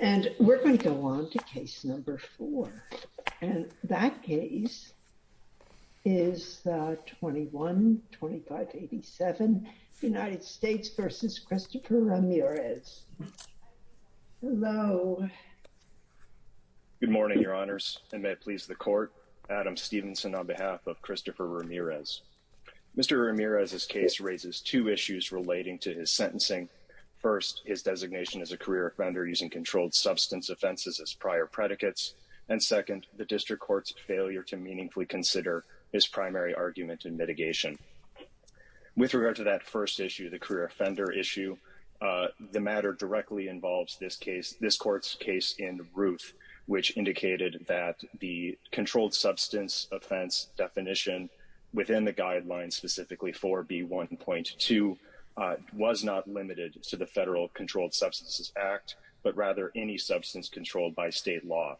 And we're going to go on to case number four. And that case is 21-2587 United States v. Christopher Ramirez. Hello. Good morning, your honors, and may it please the court. Adam Stevenson on behalf of Christopher Ramirez. Mr. Ramirez's case raises two issues relating to his sentencing. First, his designation as a career offender using controlled substance offenses as prior predicates. And second, the district court's failure to meaningfully consider his primary argument in mitigation. With regard to that first issue, the career offender issue, the matter directly involves this case, this court's case in Ruth, which indicated that the controlled substance offense definition within the guidelines specifically 4B1.2 was not limited to the Federal Controlled Substances Act, but rather any substance controlled by state law.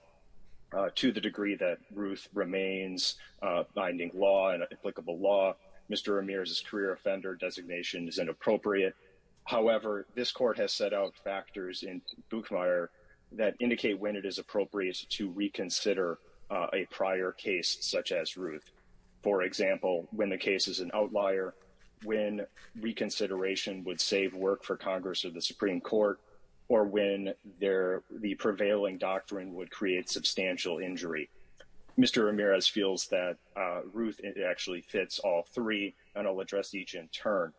To the degree that Ruth remains binding law and applicable law, Mr. Ramirez's career offender designation is inappropriate. However, this court has set out factors in Buchmeier that indicate when it is appropriate to reconsider a prior case such as when reconsideration would save work for Congress or the Supreme Court, or when the prevailing doctrine would create substantial injury. Mr. Ramirez feels that Ruth actually fits all three, and I'll address each in turn.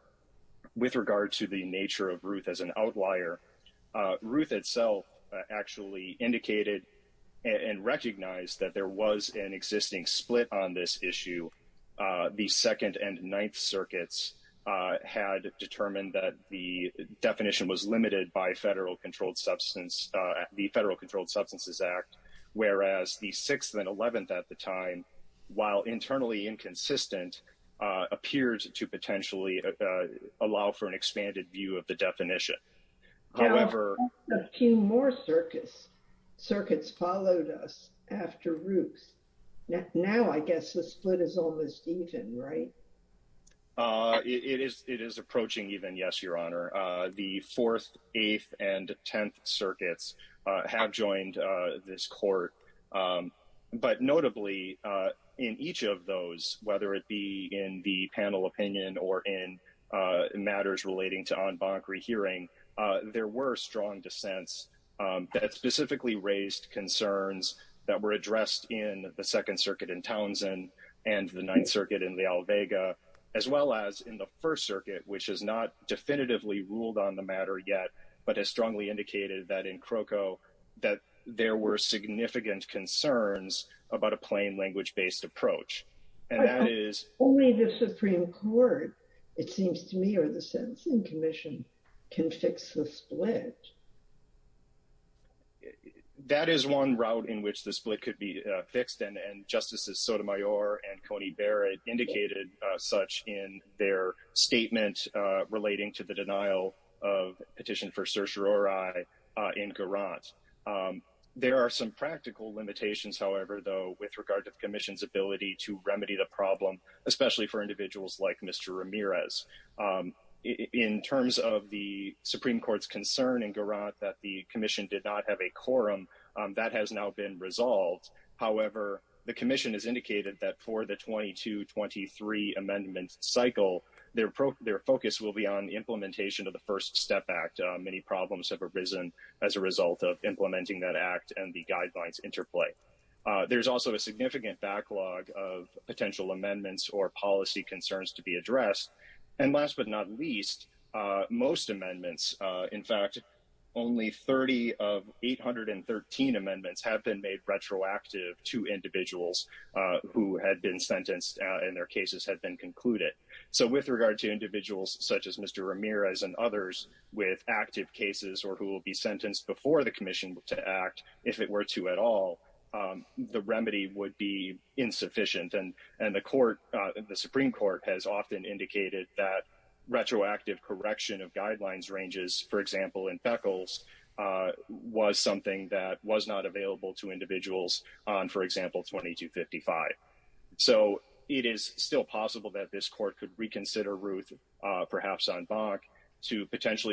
With regard to the nature of Ruth as an outlier, Ruth itself actually indicated and recognized that there was an existing split on this issue, the 2nd and 9th circuits had determined that the definition was limited by the Federal Controlled Substances Act, whereas the 6th and 11th at the time, while internally inconsistent, appeared to potentially allow for an expanded view of the definition. Now, a few more circuits followed us after Ruth. Now I guess the split is almost even, right? It is approaching even, yes, Your Honor. The 4th, 8th, and 10th circuits have joined this court, but notably in each of those, whether it be in the panel opinion or in matters relating to there were strong dissents that specifically raised concerns that were addressed in the 2nd circuit in Townsend and the 9th circuit in the Alvega, as well as in the 1st circuit, which has not definitively ruled on the matter yet, but has strongly indicated that in Croco there were significant concerns about a plain language-based approach. But only the Supreme Court, it seems to me, or the Sentencing Commission can fix the split. That is one route in which the split could be fixed, and Justices Sotomayor and Coney Barrett indicated such in their statement relating to the denial of petition for certiorari in Garant. There are some practical limitations, however, though, with regard to the Commission's ability to remedy the problem, especially for individuals like Mr. Ramirez. In terms of the Supreme Court's concern in Garant that the Commission did not have a quorum, that has now been resolved. However, the Commission has indicated that for the 22-23 amendment cycle, their focus will be on the implementation of the First Step Act. Many problems have arisen as a result of implementing that Act and the guidelines interplay. There's also a significant backlog of potential amendments or policy concerns to be addressed. And last but not least, most amendments, in fact, only 30 of 813 amendments have been made retroactive to individuals who had been sentenced and their cases had been concluded. So with regard to individuals such as Mr. Ramirez and others with active cases or who will be sentenced before the Commission to act, if it were to at all, the remedy would be insufficient. And the Supreme Court has often indicated that retroactive correction of guidelines ranges, for example, in Beckles was something that was not available to individuals on, for example, 22-55. So it is still possible that this Court could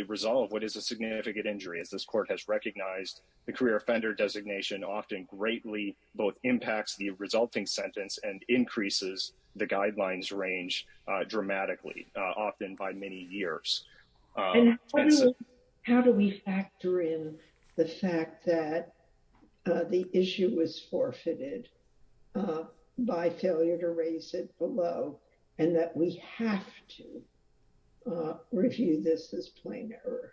resolve what is a significant injury. As this Court has recognized, the career offender designation often greatly both impacts the resulting sentence and increases the guidelines range dramatically, often by many years. How do we factor in the fact that the issue was forfeited by failure to raise it below and that we have to review this as plain error?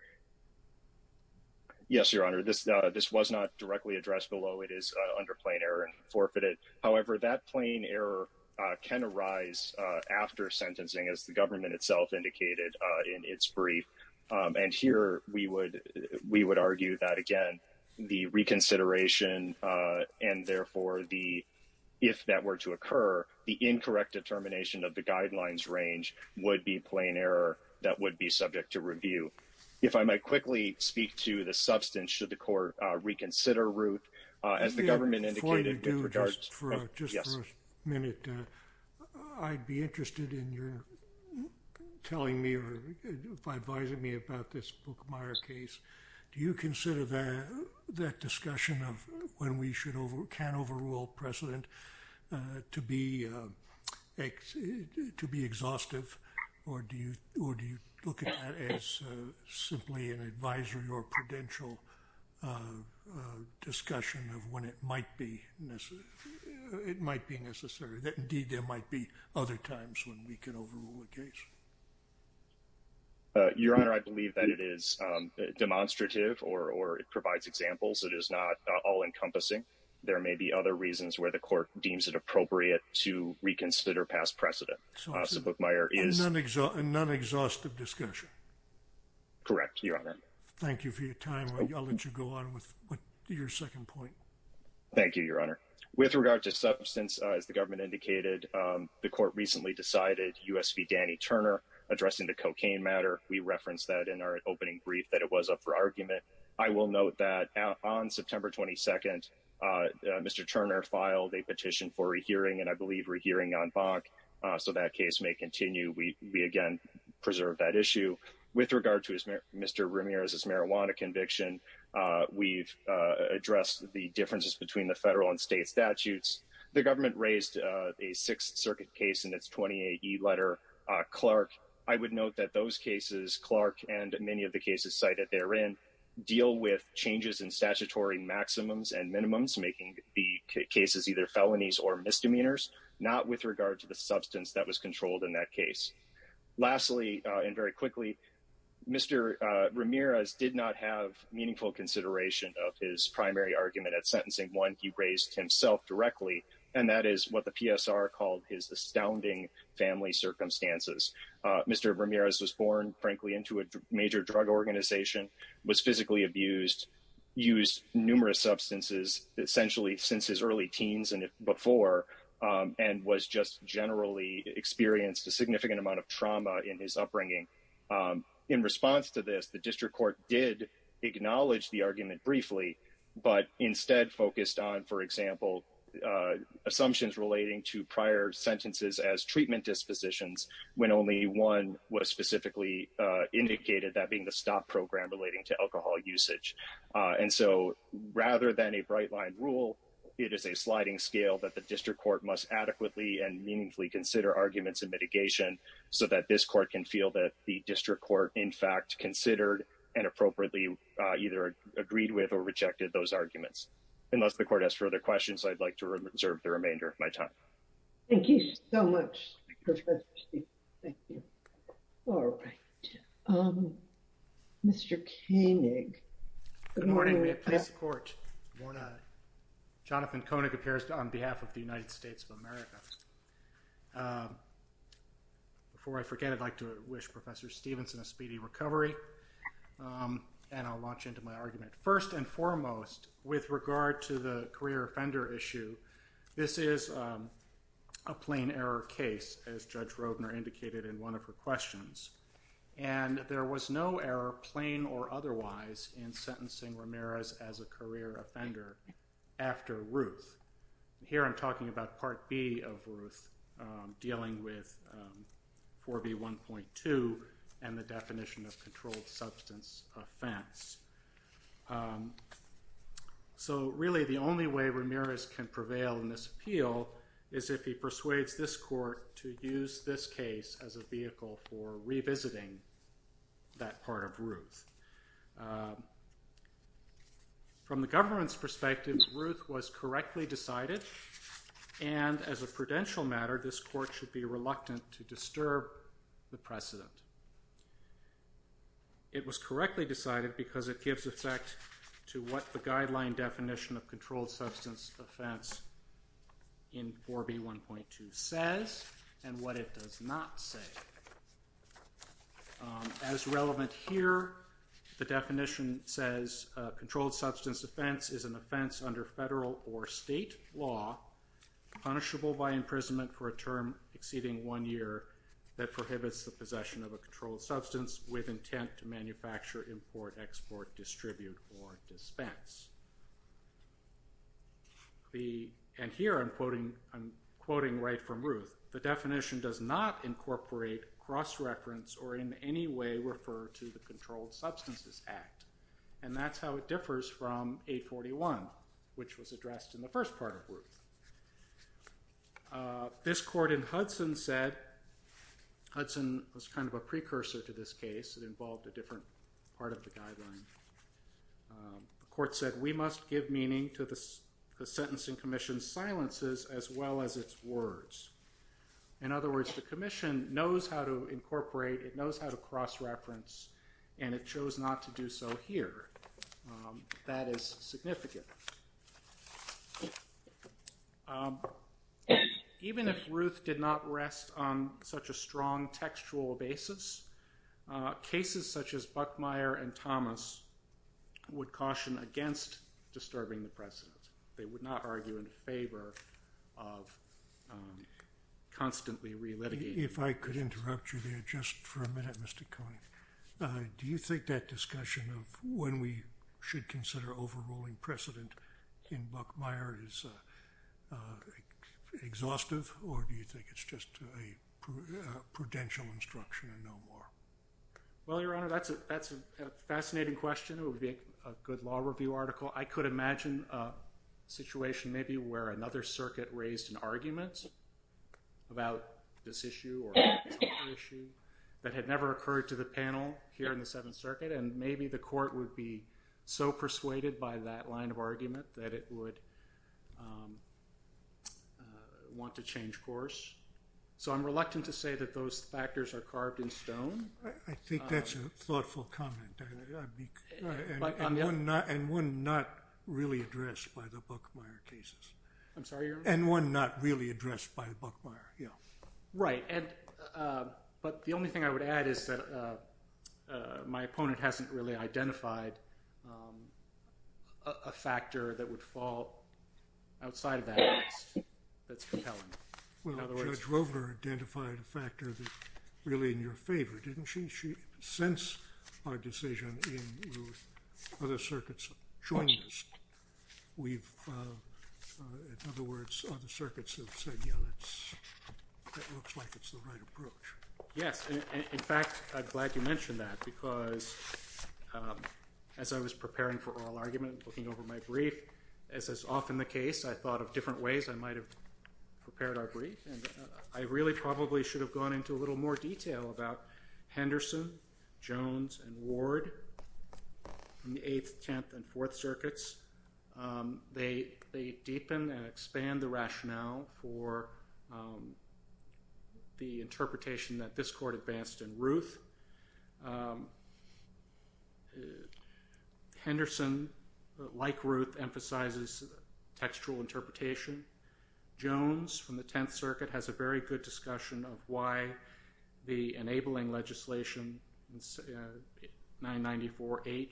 Yes, Your Honor, this was not directly addressed below. It is under plain error and forfeited. However, that plain error can arise after sentencing as the government itself indicated in its brief. And here, we would argue that, again, the reconsideration and, therefore, if that were to occur, the incorrect determination of the guidelines range would be plain error that would be subject to review. If I might quickly speak to the substance, should the Court reconsider as the government indicated? Before you do, just for a minute, I would be interested in your telling me or advising me about this Bookmeyer case. Do you consider that discussion of when we can overrule precedent to be exhaustive or do you look at that as simply an advisory or prudential discussion of when it might be necessary? Indeed, there might be other times when we can overrule a case. Your Honor, I believe that it is demonstrative or it provides examples. It is not all-encompassing. There may be other reasons where the Court deems it appropriate to reconsider past precedent. So, Bookmeyer is... A non-exhaustive discussion? Correct, Your Honor. Thank you for your time. I'll let you go on with your second point. Thank you, Your Honor. With regard to substance, as the government indicated, the Court recently decided U.S. v. Danny Turner addressing the cocaine matter. We referenced that in our opening brief that it was up for argument. I will note that on September 22, Mr. Turner filed a petition for a hearing, and I believe we're hearing on Bach, so that case may continue. We, again, preserve that issue. With regard to Mr. Ramirez's marijuana conviction, we've addressed the differences between the federal and state statutes. The government raised a Sixth Circuit case in its 28-E letter. Clark, I would note that those many of the cases cited therein deal with changes in statutory maximums and minimums, making the cases either felonies or misdemeanors, not with regard to the substance that was controlled in that case. Lastly, and very quickly, Mr. Ramirez did not have meaningful consideration of his primary argument at sentencing, one he raised himself directly, and that is what the PSR called his astounding family circumstances. Mr. Ramirez was born, frankly, into a major drug organization, was physically abused, used numerous substances, essentially since his early teens and before, and was just generally experienced a significant amount of trauma in his upbringing. In response to this, the district court did acknowledge the argument briefly, but instead focused on, for example, assumptions relating to prior sentences as treatment dispositions when only one was specifically indicated, that being the stop program relating to alcohol usage. And so rather than a bright-line rule, it is a sliding scale that the district court must adequately and meaningfully consider arguments in mitigation so that this court can feel that the district court in fact considered and appropriately either agreed with or rejected those arguments. Unless the court has further questions, I'd like to reserve the remainder of my time. Thank you so much, Professor Stevenson. Thank you. All right. Mr. Koenig. Good morning. May it please the court. Good morning. Jonathan Koenig appears on behalf of the United States of America. Before I forget, I'd like to wish Professor Stevenson a speedy recovery, and I'll launch into my argument. First and foremost, with regard to the career offender issue, this is a plain error case, as Judge Roedner indicated in one of her questions. And there was no error, plain or otherwise, in sentencing Ramirez as a career offender after Ruth. Here I'm talking about Part B of Ruth, dealing with 4B1.2 and the definition of controlled substance offense. So really, the only way Ramirez can prevail in this appeal is if he persuades this court to use this case as a vehicle for revisiting that part of Ruth. From the government's perspective, Ruth was correctly decided, and as a prudential matter, this court should be reluctant to disturb the precedent. It was correctly decided because it gives effect to what the guideline definition of controlled substance offense in 4B1.2 says and what it does not say. As relevant here, the definition says controlled substance offense is an offense under federal or state law punishable by imprisonment for a term exceeding one year that prohibits the intent to manufacture, import, export, distribute, or dispense. And here I'm quoting right from Ruth, the definition does not incorporate, cross-reference, or in any way refer to the Controlled Substances Act. And that's how it differs from 841, which was addressed in the first part of Ruth. This court in Hudson said, Hudson was kind of precursor to this case. It involved a different part of the guideline. The court said we must give meaning to the sentencing commission's silences as well as its words. In other words, the commission knows how to incorporate, it knows how to cross-reference, and it chose not to do so here. That is significant. Even if Ruth did not rest on such a strong textual basis, cases such as Buckmeyer and Thomas would caution against disturbing the precedent. They would not argue in favor of constantly relitigating. If I could interrupt you there just for a minute, Mr. Cohen. Do you think that discussion of when we should consider overruling precedent in Buckmeyer is exhaustive, or do you think it's just a prudential instruction and no more? Well, Your Honor, that's a fascinating question. It would be a good law review article. I could imagine a situation maybe where another circuit raised an argument about this issue or another issue that had never occurred to the panel here in the Seventh Circuit, and maybe the court would be so persuaded by that line of argument that it would want to change course. So I'm reluctant to say that those factors are carved in stone. I think that's a thoughtful comment, and one not really addressed by the Buckmeyer cases. I'm sorry, Your Honor? And one not really addressed by Buckmeyer, yeah. Right, but the only thing I would add is that my opponent hasn't really identified a factor that would fall outside of that that's compelling. Well, Judge Rover identified a factor that's really in your favor, didn't she? She sensed our decision and other circuits joined us. In other words, other circuits have said, yeah, that looks like it's the right approach. Yes, in fact, I'm glad you mentioned that because as I was preparing for oral argument, looking over my brief, as is often the case, I thought of different ways I might have prepared our brief, and I really probably should have gone into a Jones and Ward in the 8th, 10th, and 4th circuits. They deepen and expand the rationale for the interpretation that this court advanced in Ruth. Henderson, like Ruth, emphasizes textual interpretation. Jones from the 10th circuit has a very good discussion of why the enabling legislation, 994H,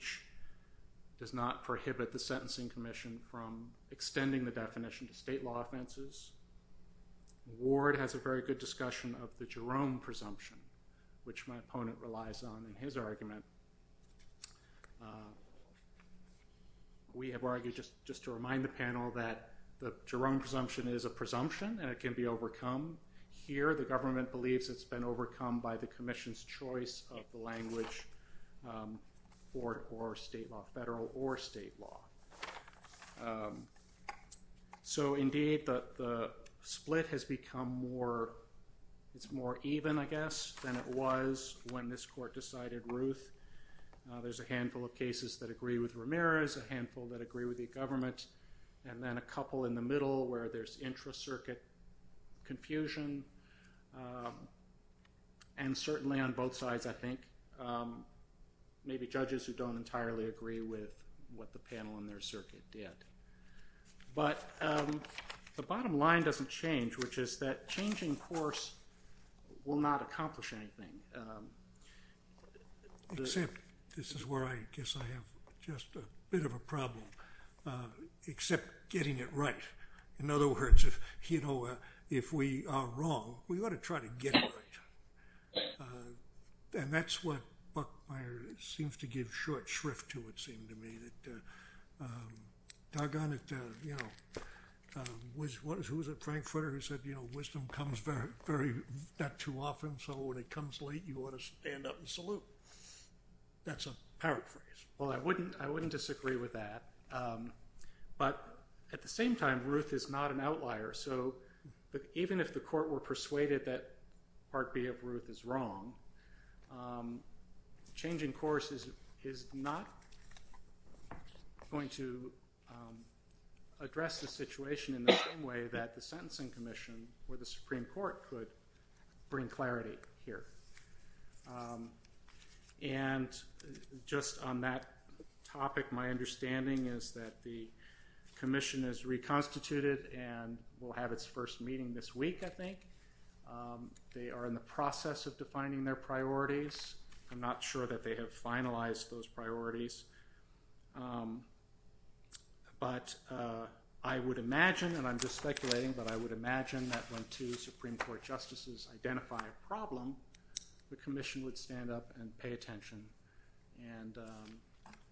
does not prohibit the Sentencing Commission from extending the definition to state law offenses. Ward has a very good discussion of the Jerome presumption, which my opponent relies on in his argument. We have argued, just to remind the panel, that the Jerome presumption is a presumption and it can be overcome. Here, the government believes it's been overcome by the commission's choice of the language for state law, federal or state law. Indeed, the split has become more, it's more even, I guess, than it was when this court decided Ruth. There's a handful of cases that agree with Ramirez, a handful that agree with the government, and then a couple in the middle where there's intra-circuit confusion, and certainly on both sides, I think, maybe judges who don't entirely agree with what the panel in their circuit did. But the bottom line doesn't change, which is that changing course will not accomplish anything. Except, this is where I guess I have just a bit of a problem, except getting it right. In other words, if we are wrong, we ought to try to get it right. And that's what Buckmeyer seems to give short shrift to, it seemed to me, that doggone it, you know, who was it, Frank Furter, who said, you know, wisdom comes not too often, so when it comes late, you ought to stand up and salute. That's a paraphrase. Well, I wouldn't disagree with that. But at the same time, Ruth is not an outlier, so that even if the court were persuaded that Part B of Ruth is wrong, changing course is not going to address the situation in the same way that the Sentencing Commission or the Supreme Court could bring clarity here. And just on that topic, my understanding is that the Commission is reconstituted and will have its first meeting this week, I think. They are in the process of defining their priorities. I'm not sure that they have finalized those priorities. But I would imagine, and I'm just speculating, but I would imagine that when two Supreme Court justices identify a problem, the Commission would stand up and pay attention and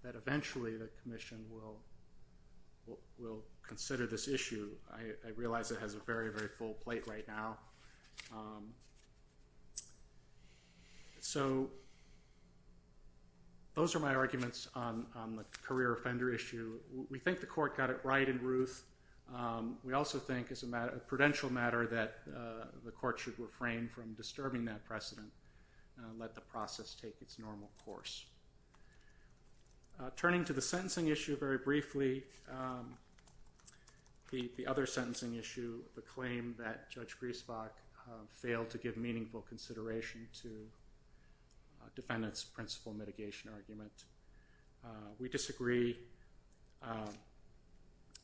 that eventually the Commission will consider this issue. I realize it has a very, very full plate right now. So those are my arguments on the career offender issue. We think the court got it right in Ruth. We also think it's a prudential matter that the court should refrain from disturbing that precedent and let the process take its normal course. Turning to the sentencing issue very briefly, the other sentencing issue, the claim that Judge Griesbach failed to give meaningful consideration to the defendant.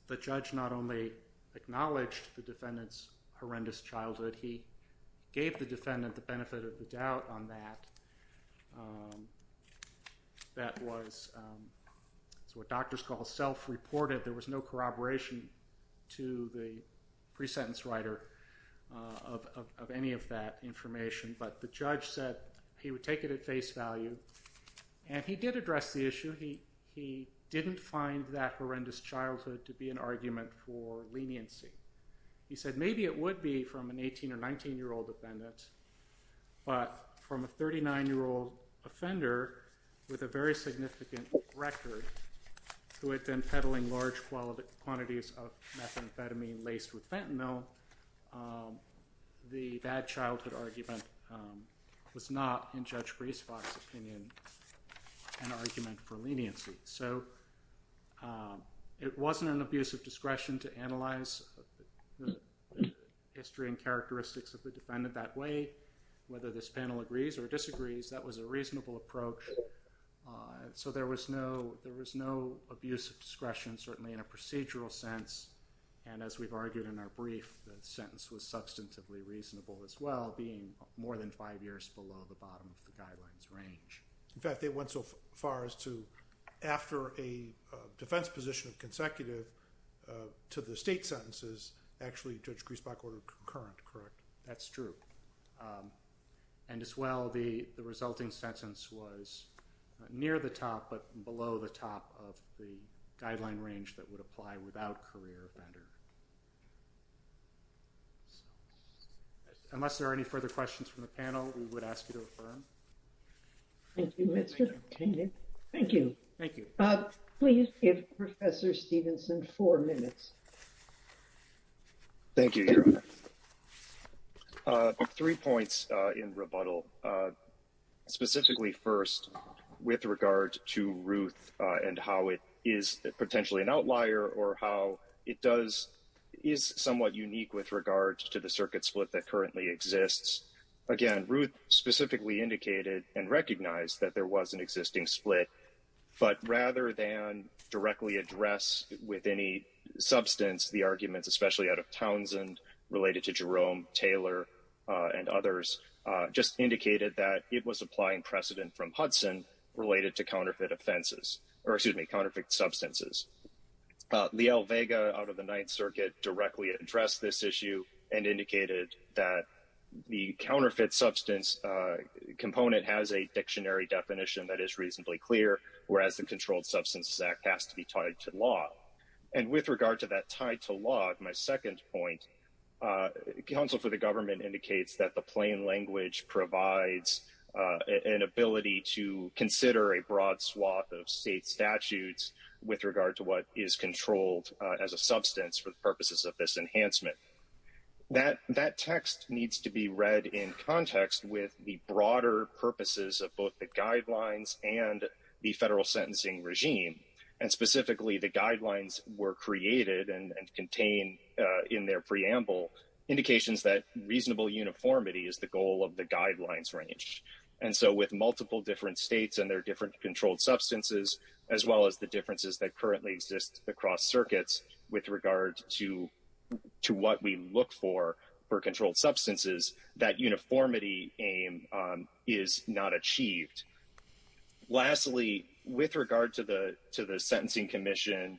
The judge not only acknowledged the defendant's horrendous childhood, he gave the defendant the benefit of the doubt on that. That was what doctors call self-reported. There was no corroboration to the pre-sentence writer of any of that information. But the judge said he would take it at face value. And he did address the issue. He didn't find that horrendous childhood to be an argument for leniency. He said maybe it would be from an 18 or 19-year-old defendant, but from a 39-year-old offender with a very significant record who had been peddling large quantities of methamphetamine laced with fentanyl, the bad childhood argument was not, in Judge Griesbach's opinion, an argument for leniency. So it wasn't an abuse of discretion to analyze the history and characteristics of the defendant that way. Whether this panel agrees or disagrees, that was a reasonable approach. And so there was no abuse of discretion, certainly in a procedural sense, and as we've argued in our brief, the sentence was substantively reasonable as well, being more than five years below the bottom of the guidelines range. In fact, they went so far as to, after a defense position of consecutive to the state sentences, actually Judge Griesbach ordered concurrent, correct? That's true. And as well, the resulting sentence was near the top but below the top of the guideline range that would apply without career offender. Unless there are any further questions from the panel, we would ask you to refer them. Thank you, Mr. Kainan. Thank you. Please give Professor Stevenson four minutes. Thank you, Your Honor. Three points in rebuttal, specifically first with regard to Ruth and how it is potentially an outlier or how it is somewhat unique with regard to the circuit split that currently exists. Again, Ruth specifically indicated and recognized that there was an especially out of Townsend, related to Jerome, Taylor, and others, just indicated that it was applying precedent from Hudson related to counterfeit offenses, or excuse me, counterfeit substances. Liel Vega out of the Ninth Circuit directly addressed this issue and indicated that the counterfeit substance component has a dictionary definition that is reasonably clear, whereas the Controlled Substances Act has to be tied to law. And with regard to that tied to law, my second point, counsel for the government indicates that the plain language provides an ability to consider a broad swath of state statutes with regard to what is controlled as a substance for the purposes of this enhancement. That text needs to be read in regime, and specifically the guidelines were created and contained in their preamble, indications that reasonable uniformity is the goal of the guidelines range. And so with multiple different states and their different controlled substances, as well as the differences that currently exist across circuits with regard to what we look for for controlled substances, that uniformity aim is not achieved. Lastly, with regard to the Sentencing Commission,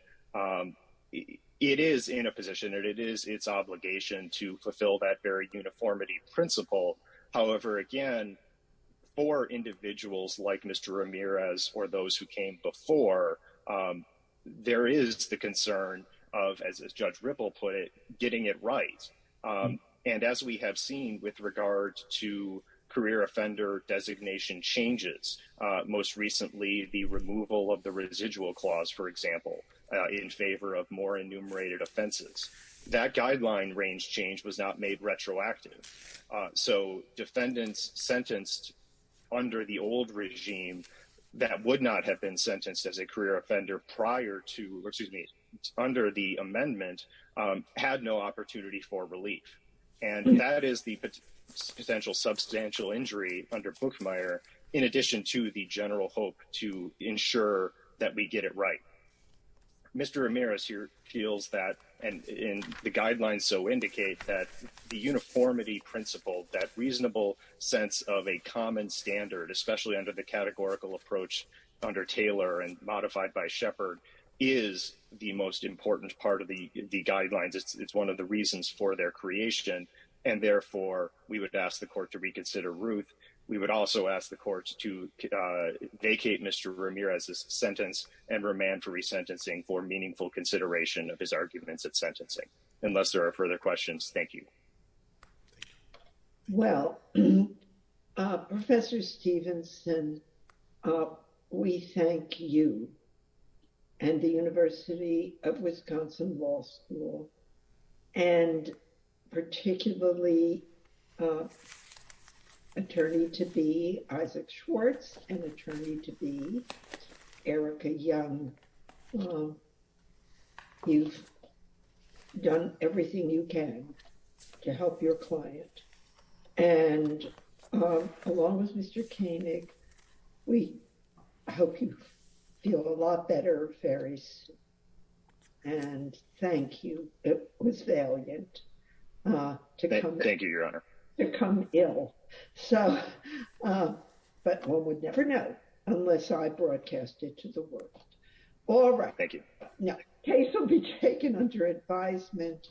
it is in a position, it is its obligation to fulfill that very uniformity principle. However, again, for individuals like Mr. Ramirez or those who came before, there is the concern of, as Judge Ripple put it, getting it right. And as we have seen with regard to career offender designation changes, most recently the removal of the residual clause, for example, in favor of more enumerated offenses, that guideline range change was not made retroactive. So defendants sentenced under the old regime that would not have been sentenced as a career offender prior to, or excuse me, under the amendment, had no opportunity for relief. And that is the potential substantial injury under Buchmeier, in addition to the general hope to ensure that we get it right. Mr. Ramirez here feels that, and the guidelines so indicate that, the uniformity principle, that reasonable sense of a common standard, especially under the categorical approach under Taylor and modified by Shepard, is the most important part of the guidelines. It's one of the reasons for their creation. And therefore, we would ask the court to reconsider Ruth. We would also ask the courts to vacate Mr. Ramirez's sentence and remand for resentencing for meaningful consideration of his arguments at sentencing. Unless there are further questions. Thank you. Well, Professor Stevenson, we thank you and the University of Wisconsin Law School, and particularly attorney to be Isaac Schwartz and attorney to be Erica Young. You've done everything you can to help your client. And along with Mr. Koenig, we hope you feel a lot better very soon. And thank you. It was valiant to come. Thank you, all right. Thank you. No case will be taken under advisement.